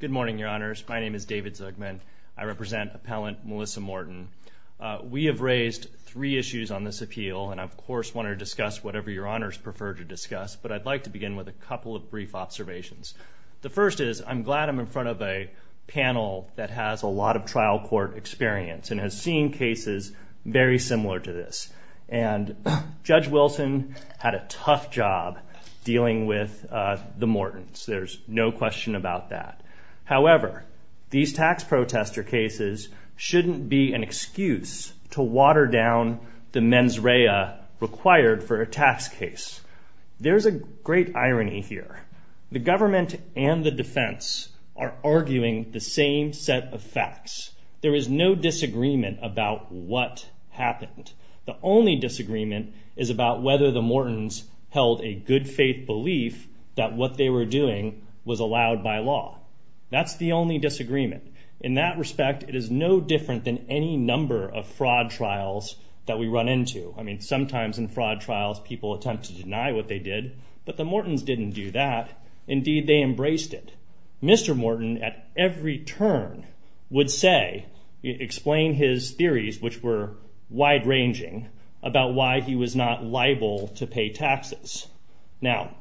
Good morning, your honors. My name is David Zugman. I represent appellant Melissa Morton. We have raised three issues on this appeal, and I, of course, want to discuss whatever your honors prefer to discuss, but I'd like to begin with a couple of brief observations. The first is I'm glad I'm in front of a panel that has a lot of trial court experience and has seen cases very similar to this, and Judge Wilson had a tough job dealing with the Mortons. There's no question about that. However, these tax protester cases shouldn't be an excuse to water down the mens rea required for a tax case. There's a great irony here. The government and the defense are arguing the same set of facts. There is no disagreement about what happened. The only disagreement is about whether the Mortons held a good faith belief that what they were doing was allowed by law. That's the only disagreement. In that respect, it is no different than any number of fraud trials that we run into. I mean, sometimes in fraud trials, people attempt to deny what they did, but the Mortons didn't do that. Indeed, they embraced it. Mr. Morton, at every turn, would say, explain his theories, which were wide ranging, about why he was not liable to pay taxes. Now,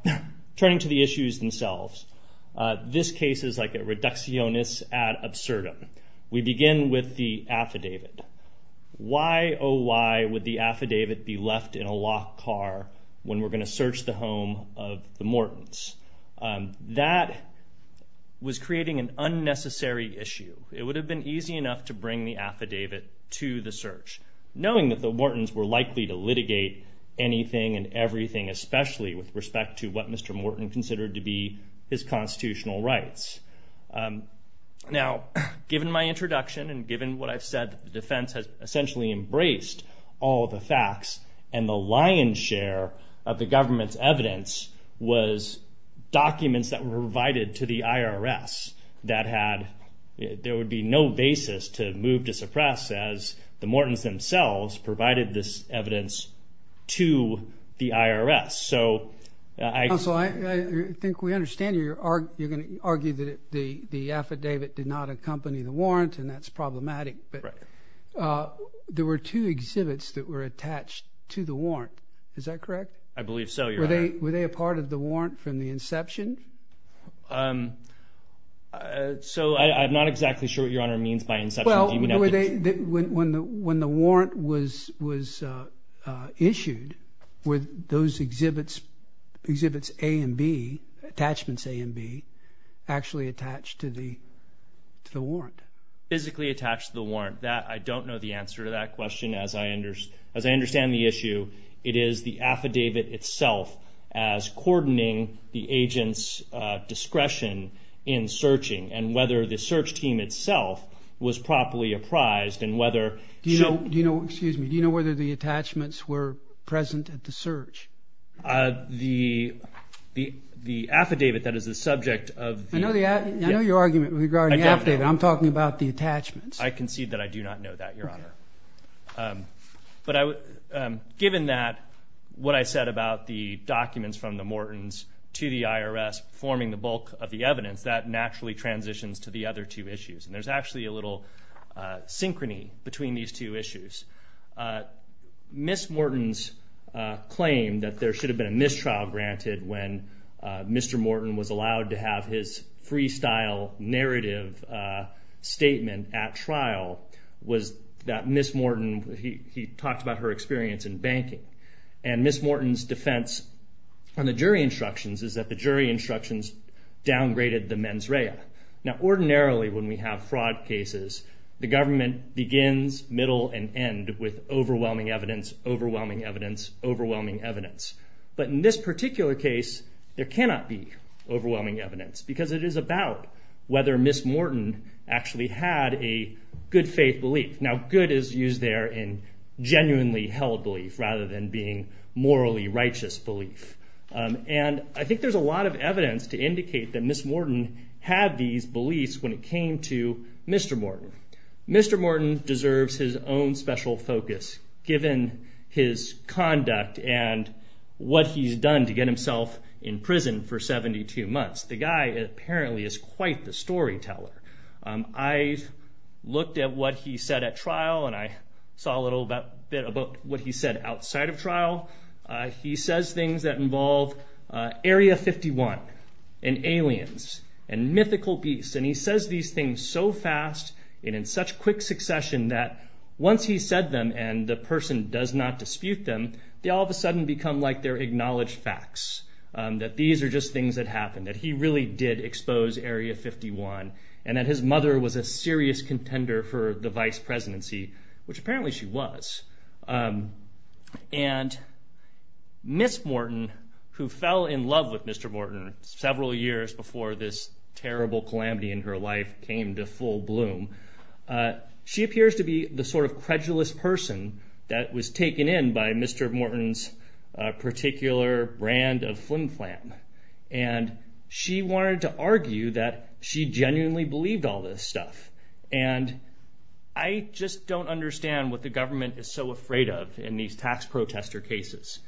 turning to the issues themselves, this case is like a reductionist ad absurdum. We begin with the affidavit. Why oh why would the affidavit be left in a locked car when we're going to search the Mortons? That was creating an unnecessary issue. It would have been easy enough to bring the affidavit to the search, knowing that the Mortons were likely to litigate anything and everything, especially with respect to what Mr. Morton considered to be his constitutional rights. Now, given my introduction and given what I've said, the defense has essentially embraced all the facts, and the lion's share of the government's evidence was documents that were provided to the IRS. There would be no basis to move to suppress, as the Mortons themselves provided this evidence to the IRS. Counsel, I think we understand you're going to argue that the affidavit did not accompany the warrant, and that's problematic, but there were two exhibits that were attached to the warrant. Is that correct? I believe so, Your Honor. Were they a part of the warrant from the inception? So, I'm not exactly sure what Your Honor means by inception. Well, when the warrant was issued, were those exhibits A and B, attachments A and B, actually attached to the warrant? Physically attached to the warrant. I don't know the answer to that question. As I understand the issue, it is the affidavit itself as coordinating the agent's discretion in searching, and whether the search team itself was properly apprised, and whether... Do you know whether the attachments were present at the search? The affidavit that is the subject of... I know your argument regarding the affidavit. I'm talking about the attachments. I concede that I do not know that, Your Honor. But given that, what I said about the documents from the Mortons to the IRS forming the bulk of the evidence, that naturally transitions to the other two issues, and there's actually a little synchrony between these two issues. Ms. Morton's claim that there should have been a mistrial granted when Mr. Morton was allowed to have his freestyle narrative statement at trial was that Ms. Morton, he talked about her experience in banking, and Ms. Morton's defense on the jury instructions is that the jury instructions downgraded the mens rea. Now ordinarily, when we have fraud cases, the government begins, middle, and end with overwhelming evidence, overwhelming evidence, overwhelming evidence. But in this particular case, there cannot be overwhelming evidence, because it is about whether Ms. Morton actually had a good faith belief. Now good is used there in genuinely held belief, rather than being morally righteous belief. And I think there's a lot of evidence to indicate that Ms. Morton did have these beliefs when it came to Mr. Morton. Mr. Morton deserves his own special focus, given his conduct and what he's done to get himself in prison for 72 months. The guy apparently is quite the storyteller. I looked at what he said at trial, and I saw a little bit about what he said outside of trial. He says things that involve Area 51, and aliens, and mythical beasts, and he says these things so fast, and in such quick succession that once he's said them, and the person does not dispute them, they all of a sudden become like they're acknowledged facts, that these are just things that happened, that he really did expose Area 51, and that his mother was a serious contender for the vice presidency, which apparently she was. And Ms. Morton, who fell in love with Mr. Morton, and Ms. Morton, several years before this terrible calamity in her life came to full bloom, she appears to be the sort of credulous person that was taken in by Mr. Morton's particular brand of flim-flam. And she wanted to argue that she genuinely believed all this stuff. And I just don't understand what the government is so afraid of in these tax protester cases.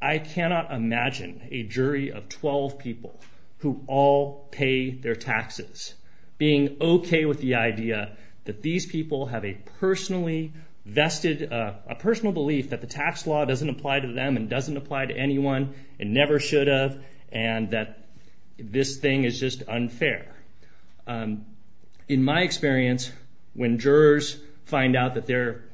I cannot imagine a jury of 12 people who all pay their taxes, being okay with the idea that these people have a personally vested, a personal belief that the tax law doesn't apply to them, and doesn't apply to anyone, and never should have, and that this thing is just unfair. In my experience, when jurors find out that their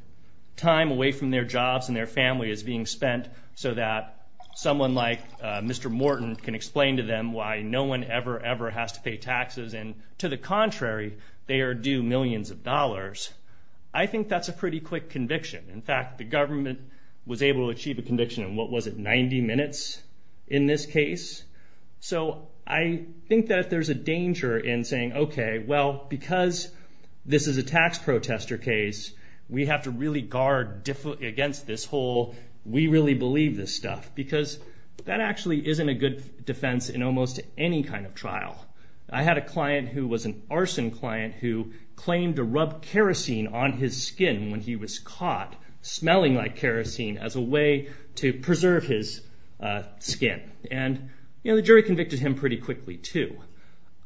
time away from their jobs and their family is being spent so that someone like Mr. Morton can explain to them why no one ever, ever has to pay taxes, and to the contrary, they are due millions of dollars, I think that's a pretty quick conviction. In fact, the government was able to achieve a conviction in, what was it, 90 minutes in this case? So I think that there's a danger in saying, okay, well, because this is a tax protester case, we have to really guard against this whole, we really believe this stuff, because that actually isn't a good defense in almost any kind of trial. I had a client who was an arson client who claimed to rub kerosene on his skin when he was caught, smelling like kerosene, as a way to preserve his skin. And the jury convicted him pretty quickly, too.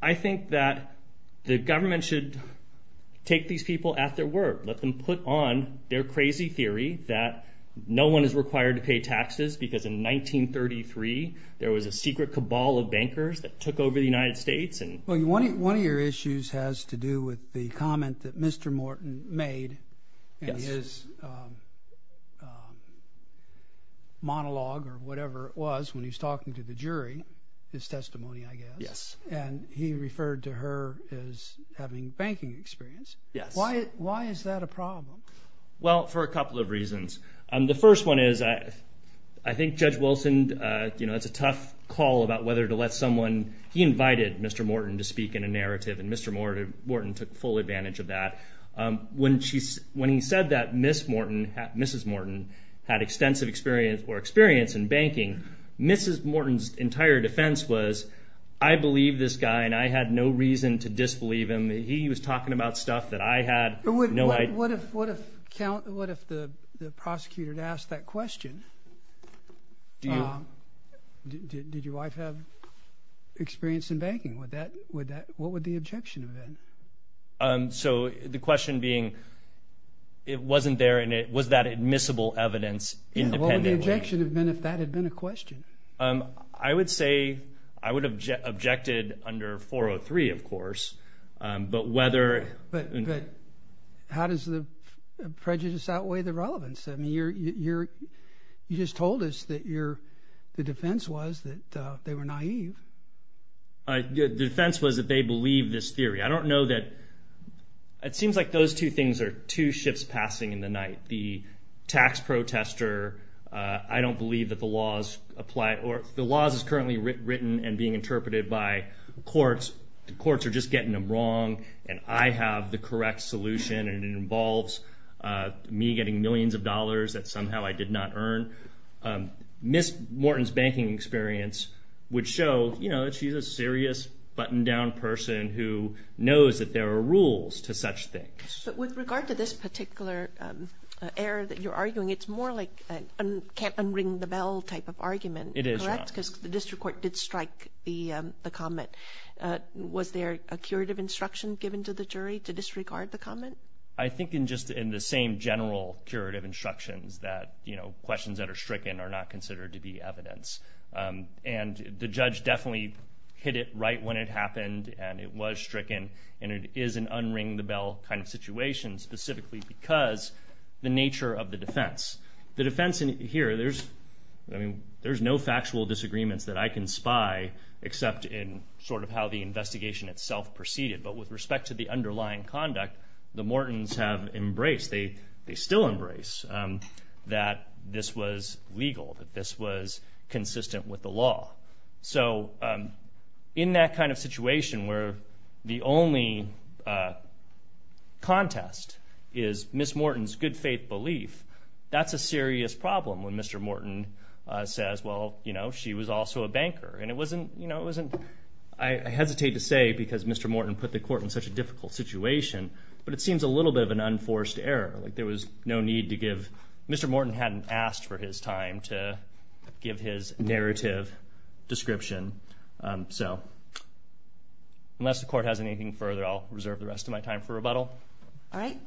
I think that the government should take these people at their word, let them put on their crazy theory that no one is required to pay taxes, because in 1933, there was a secret cabal of bankers that took over the United States. Well, one of your issues has to do with the comment that Mr. Morton made in his monologue or whatever it was when he was talking to the jury, his testimony, I guess, and he referred to her as having banking experience. Why is that a problem? Well, for a couple of reasons. The first one is, I think Judge Wilson, it's a tough call about whether to let someone, he invited Mr. Morton to speak in a narrative, and Mr. Morton took full advantage of that. When he said that Mrs. Morton had extensive experience or experience in banking, Mrs. Morton's entire defense was, I believe this guy and I had no reason to disbelieve him. He was talking about stuff that I had no idea. What if the prosecutor had asked that question? Did your wife have experience in banking? What would the objection have been? So the question being, it wasn't there and it was that admissible evidence independently. What would the objection have been if that had been a question? I would say, I would have objected under 403, of course, but whether... How does the prejudice outweigh the relevance? You just told us that the defense was that they were naive. The defense was that they believed this theory. I don't know that, it seems like those two things are two shifts passing in the night. The tax protester, I don't believe that the laws is currently written and being interpreted by courts. The courts are just getting them wrong and I have the correct solution and it involves me getting millions of dollars that somehow I did not earn. Ms. Morton's banking experience would show that she's a serious, buttoned down person who knows that there are rules to such things. With regard to this particular error that you're arguing, it's more like a can't unring the bell type of argument, correct, because the district court did strike the comment. Was there a curative instruction given to the jury to disregard the comment? I think in the same general curative instructions that questions that are stricken are not considered to be evidence. The judge definitely hit it right when it happened and it was stricken and it is an unring the bell kind of situation specifically because the nature of the defense. The defense here, there's no factual disagreements that I can spy except in sort of how the investigation itself proceeded but with respect to the underlying conduct, the Mortons have embraced, they still embrace that this was legal, that this was consistent with the law. In that kind of situation where the only contest is Ms. Morton's good faith belief, that's a serious problem when Mr. Morton says, well, she was also a banker and it wasn't, I hesitate to say because Mr. Morton put the court in such a difficult situation but it seems a little bit of an unforced error. There was no need to give, Mr. Morton hadn't asked for his time to give his narrative description. Unless the court has anything further, I'll turn it over to you.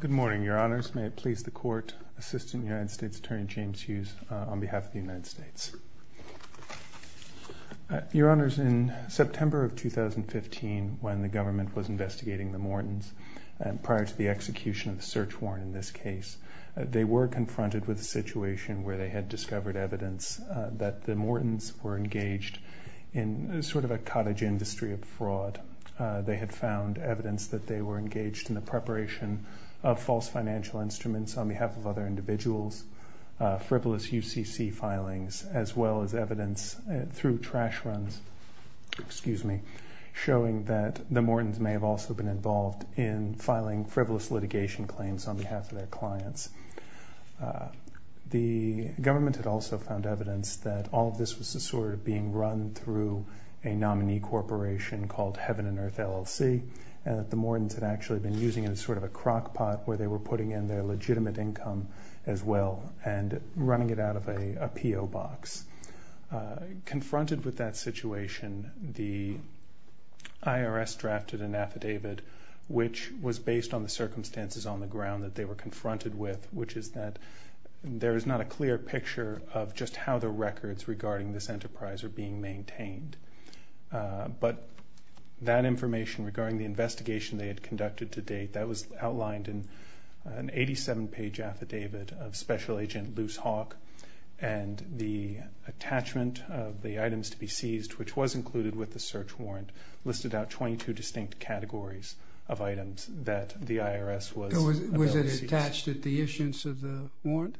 Good morning, Your Honors. May it please the court, Assistant United States Attorney James Hughes on behalf of the United States. Your Honors, in September of 2015 when the government was investigating the Mortons, prior to the execution of the search warrant in this case, they were confronted with a situation where they had discovered evidence that the Mortons were engaged in sort of a cottage industry of fraud. They had found evidence that they were engaged in the preparation of false financial instruments on behalf of other individuals, frivolous UCC filings, as well as evidence through trash runs showing that the Mortons may have also been involved in filing frivolous litigation claims on behalf of their clients. The government had also found evidence that all of this was sort of being run through a nominee corporation called Heaven and Earth LLC and that the Mortons had actually been using it as sort of a crockpot where they were putting in their legitimate income as well and running it out of a PO box. Confronted with that situation, the IRS drafted an affidavit which was based on the circumstances on the ground that they were confronted with, which is that there is not a clear picture of just how the records regarding this enterprise are being maintained. But that information regarding the investigation they had conducted to date, that was outlined in an 87-page affidavit of Special Agent Luce Hawk and the attachment of the items to be seized, which was included with the search warrant, listed out 22 distinct categories of items that the IRS was. Was it attached at the issuance of the warrant?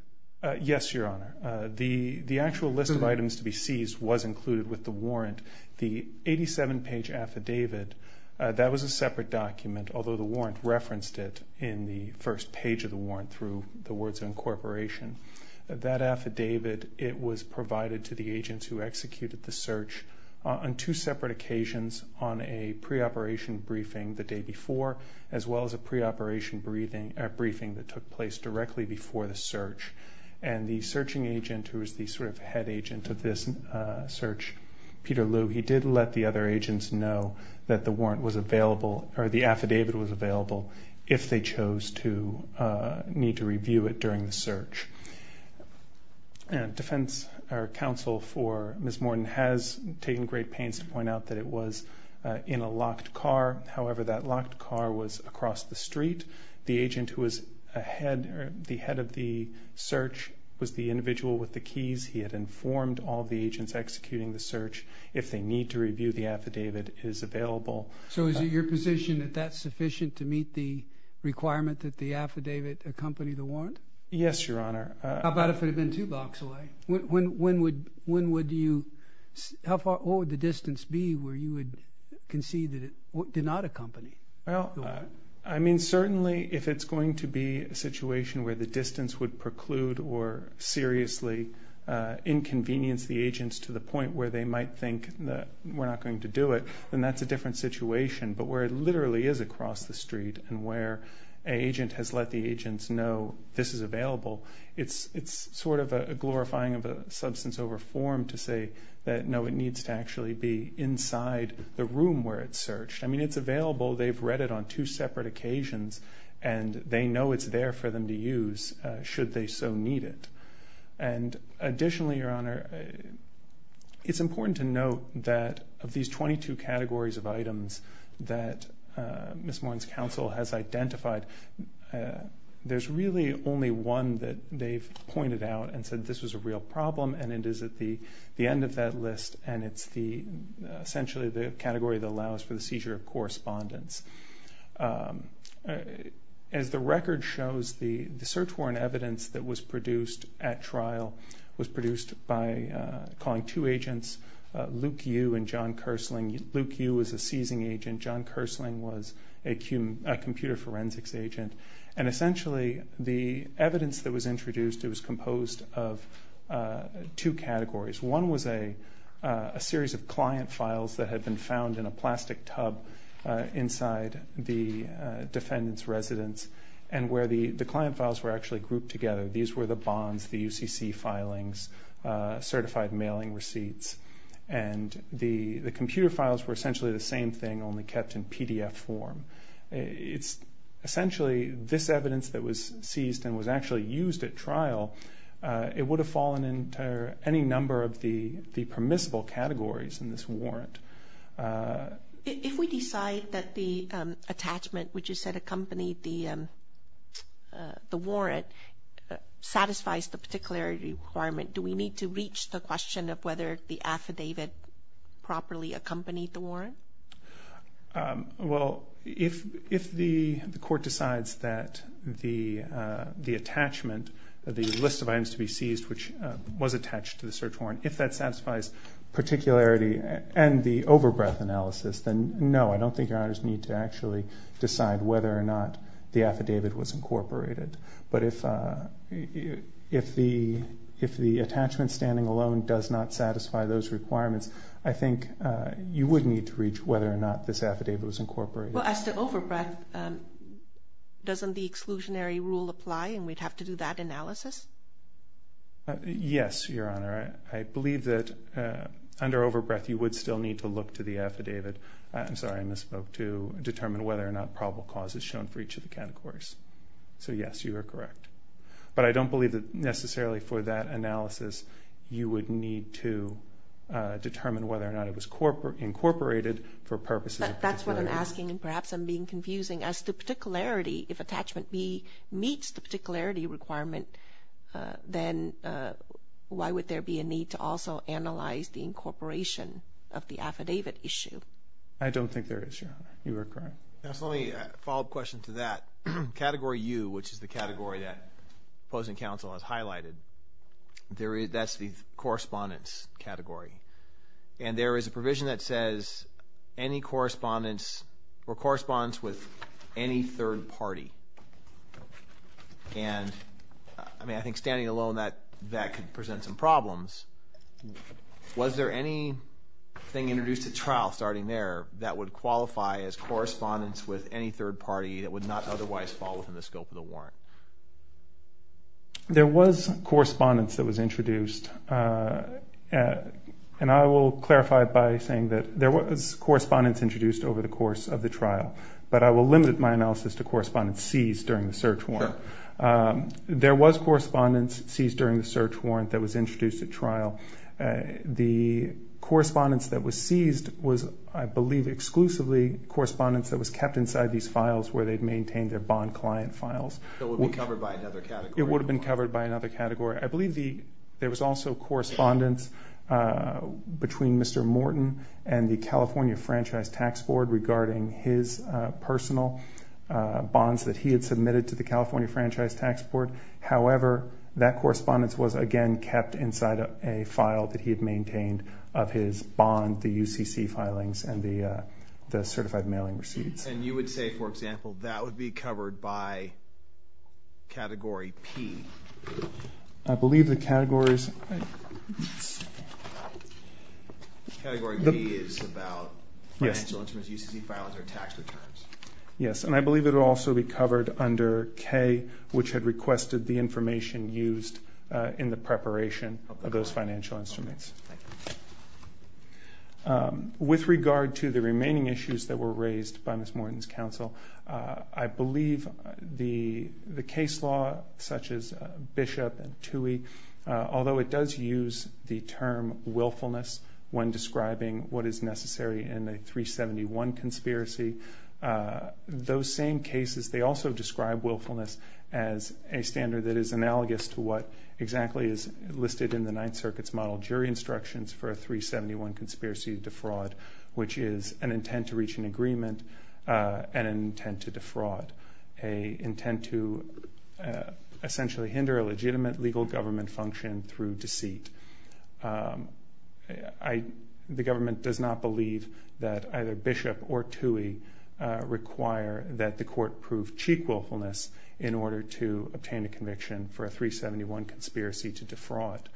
Yes, Your Honor. The actual list of items to be seized was included with the warrant. The 87-page affidavit, that was a separate document, although the warrant referenced it in the first page of the warrant through the words of incorporation. That affidavit, it was provided to the agents who executed the search on two separate occasions on a pre-operation briefing the day before, as well as a pre-operation briefing that took place directly before the search. And the searching agent, who was the sort of head agent of this search, Peter Lue, he did let the other agents know that the warrant was available, or the affidavit was available, if they chose to need to review it during the search. And defense counsel for Ms. Morton has taken great pains to point out that it was in a locked car. However, that locked car was across the street. The agent who was the head of the search was the individual with the keys. He had informed all the agents executing the search, if they need to review the affidavit, it is available. So is it your position that that's sufficient to meet the requirement that the affidavit accompany the warrant? Yes, Your Honor. How about if it had been two blocks away? When would you, what would the distance be where you would concede that it did not accompany the warrant? I mean, certainly, if it's going to be a situation where the distance would preclude or seriously inconvenience the agents to the point where they might think that we're not going to do it, then that's a different situation. But where it literally is across the street and where an agent has let the agents know this is available, it's sort of a glorifying of the room where it's searched. I mean, it's available. They've read it on two separate occasions and they know it's there for them to use, should they so need it. And additionally, Your Honor, it's important to note that of these 22 categories of items that Ms. Moran's counsel has identified, there's really only one that they've pointed out and it is at the end of that list and it's essentially the category that allows for the seizure of correspondence. As the record shows, the search warrant evidence that was produced at trial was produced by calling two agents, Luke Yu and John Kersling. Luke Yu was a seizing agent. John Kersling was a computer forensics agent. And essentially, the evidence that was introduced, it was composed of two categories. One was a series of client files that had been found in a plastic tub inside the defendant's residence and where the client files were actually grouped together. These were the bonds, the UCC filings, certified mailing receipts. And the computer files were essentially the same thing, only kept in PDF form. It's essentially this evidence that was seized and was actually used at trial, it would have fallen into any number of the permissible categories in this warrant. If we decide that the attachment, which you said accompanied the warrant, satisfies the particular requirement, do we need to reach the question of whether the affidavit properly accompanied the warrant? Well, if the court decides that the attachment, the list of items to be seized, which was attached to the search warrant, if that satisfies particularity and the over-breath analysis, then no, I don't think your honors need to actually decide whether or not the affidavit was incorporated. But if the attachment standing alone does not satisfy those requirements, I think you would need to reach whether or not this affidavit was incorporated. Well, as to over-breath, doesn't the exclusionary rule apply and we'd have to do that analysis? Yes, your honor. I believe that under over-breath you would still need to look to the affidavit, I'm sorry, I misspoke, to determine whether or not probable cause is shown for each of the categories. So yes, you are correct. But I don't believe that necessarily for that to determine whether or not it was incorporated for purposes of particularity. But that's what I'm asking and perhaps I'm being confusing. As to particularity, if attachment B meets the particularity requirement, then why would there be a need to also analyze the incorporation of the affidavit issue? I don't think there is, your honor. You are correct. Yes, let me follow up question to that. Category U, which is the category that opposing counsel has highlighted, that's the correspondence category. And there is a provision that says any correspondence or correspondence with any third party. And I mean, I think standing alone that could present some problems. Was there anything introduced at trial starting there that would qualify as correspondence with any third party that would not otherwise fall within the scope of the warrant? There was correspondence that was introduced. And I will clarify by saying that there was correspondence introduced over the course of the trial. But I will limit my analysis to correspondence seized during the search warrant. Sure. There was correspondence seized during the search warrant that was introduced at trial. The correspondence that was seized was, I believe, exclusively correspondence that was kept inside these files where they'd maintained their bond client files. It would be covered by another category? It would have been covered by another category. I believe there was also correspondence between Mr. Morton and the California Franchise Tax Board regarding his personal bonds that he had submitted to the California Franchise Tax Board. However, that correspondence was, again, kept inside a file that he had maintained of his bond, the UCC filings, and the certified mailing receipts. And you would say, for example, that would be covered by category P? I believe the category is... Category P is about financial instruments, UCC files, or tax returns. Yes. And I believe it would also be covered under K, which had requested the information used in the preparation of those financial instruments. Thank you. With regard to the remaining issues that were raised by Ms. Morton's counsel, I believe the case law, such as Bishop and Tuohy, although it does use the term willfulness when describing what is necessary in a 371 conspiracy, those same cases, they also describe willfulness as a standard that is analogous to what exactly is listed in the Ninth Circuit's model jury instructions for a 371 conspiracy to defraud, which is an intent to reach an agreement and an intent to defraud, an intent to essentially hinder a legitimate legal government function through deceit. The government does not believe that either Bishop or Tuohy require that the court prove cheek willfulness in order to obtain a conviction for a 371 conspiracy to defraud.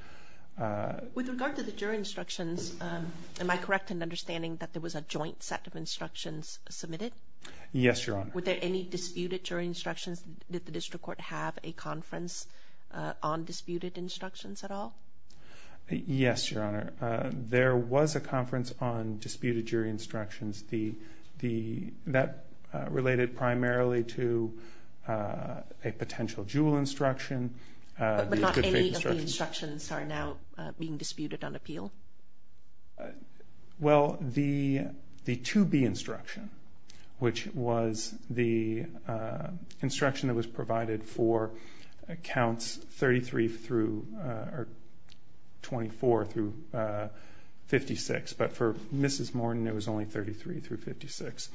With regard to the jury instructions, am I correct in understanding that there was a joint set of instructions submitted? Yes, Your Honor. Were there any disputed jury instructions? Did the district court have a conference on disputed instructions at all? Yes, Your Honor. There was a conference on disputed jury instructions that related primarily to a potential jewel instruction. But not any of the instructions are now being disputed on appeal? Well, the 2B instruction, which was the instruction that was provided for accounts 33 through 24 through 56, but for Mrs. Morton it was only 33 through 56.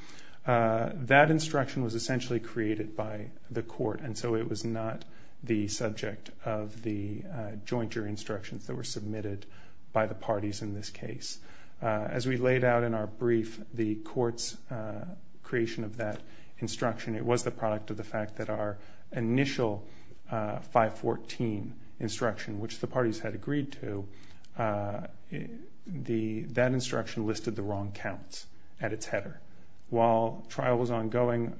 That instruction was essentially created by the court, and so it was not the subject of the joint jury instructions that were submitted by the parties in this case. As we laid out in our brief, the court's creation of that instruction, it was the product of the fact that our initial 514 instruction, which the parties had agreed to, that instruction listed the wrong counts at its header. While trial was ongoing,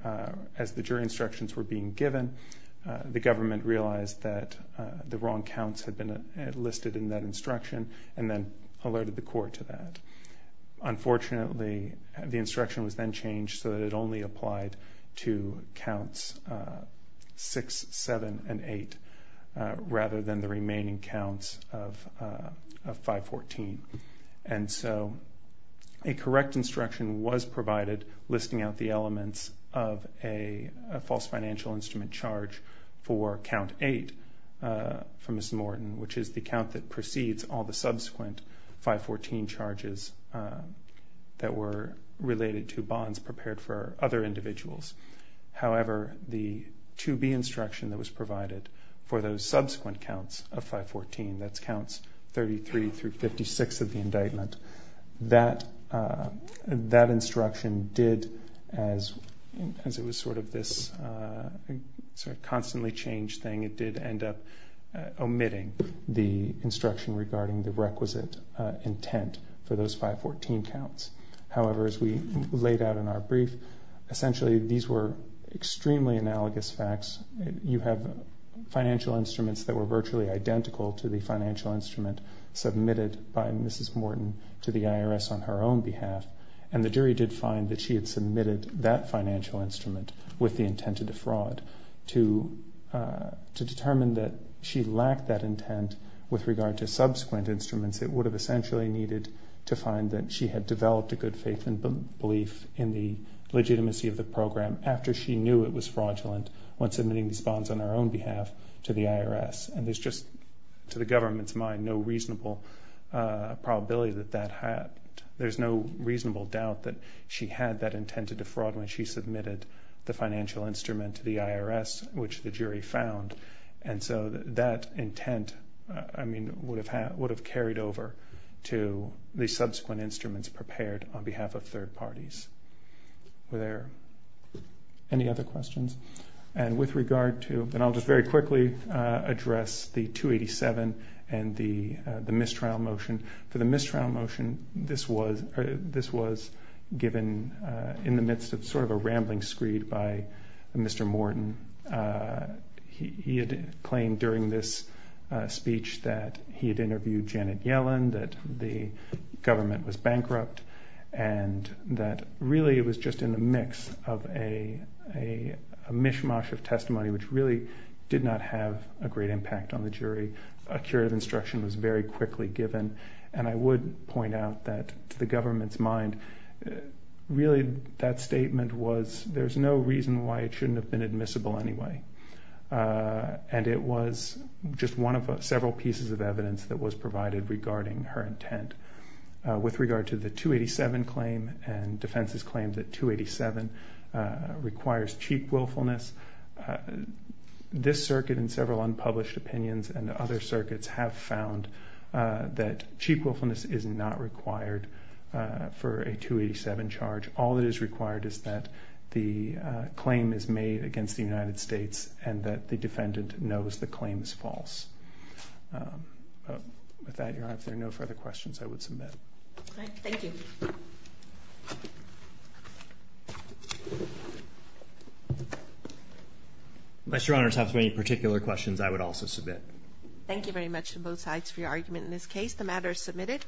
as the jury instructions were being given, the government realized that the wrong counts had been listed in that instruction and then alerted the court to that. Unfortunately, the instruction was then changed so that it only applied to counts 6, 7, and 8 rather than the remaining counts of 514. And so a correct instruction was provided listing out the elements of a false financial instrument charge for count 8 for Mrs. Morton, which is the count that precedes all the subsequent 514 charges that were related to bonds prepared for other individuals. However, the 2B instruction that was provided for those subsequent counts of 514, that's counts 33 through 56 of the indictment, that instruction did, as it was sort of this constantly changed thing, it did end up omitting the instruction regarding the requisite intent for those 514 counts. However, as we laid out in our brief, essentially these were extremely analogous facts. You have financial instruments that were virtually identical to the financial instrument submitted by Mrs. Morton to the IRS on her own behalf, and the jury did find that she had submitted that financial instrument with the intent to defraud. To determine that she lacked that intent with regard to subsequent instruments, it would have essentially needed to find that she had developed a good faith and belief in the legitimacy of the program after she knew it was fraudulent when submitting these bonds on her own behalf to the IRS. And there's just, to the government's mind, no reasonable probability that that had. There's no reasonable doubt that she had that intent to defraud when she submitted the financial instrument to the IRS, which the jury found. And so that intent, I mean, would have carried over to the subsequent instruments prepared on behalf of third parties. Were there any other questions? And with regard to, and I'll just very quickly address the 287 and the mistrial motion. For the mistrial motion, this was given in the midst of sort of a rambling screed by Mr. Morton. He had claimed during this speech that he had interviewed Janet Yellen, that the government was bankrupt, and that really it was just in the mix of a mishmash of testimony which really did not a curative instruction was very quickly given. And I would point out that, to the government's mind, really that statement was, there's no reason why it shouldn't have been admissible anyway. And it was just one of several pieces of evidence that was provided regarding her intent. With regard to the 287 claim and defense's claim that 287 requires cheap willfulness, this circuit and several unpublished opinions and other circuits have found that cheap willfulness is not required for a 287 charge. All that is required is that the claim is made against the United States and that the defendant knows the claim is false. With that, Your Honor, if there are no further questions, I would submit. All right. Thank you. Unless Your Honor has any particular questions, I would also submit. Thank you very much to both sides for your argument in this case. The matter is submitted.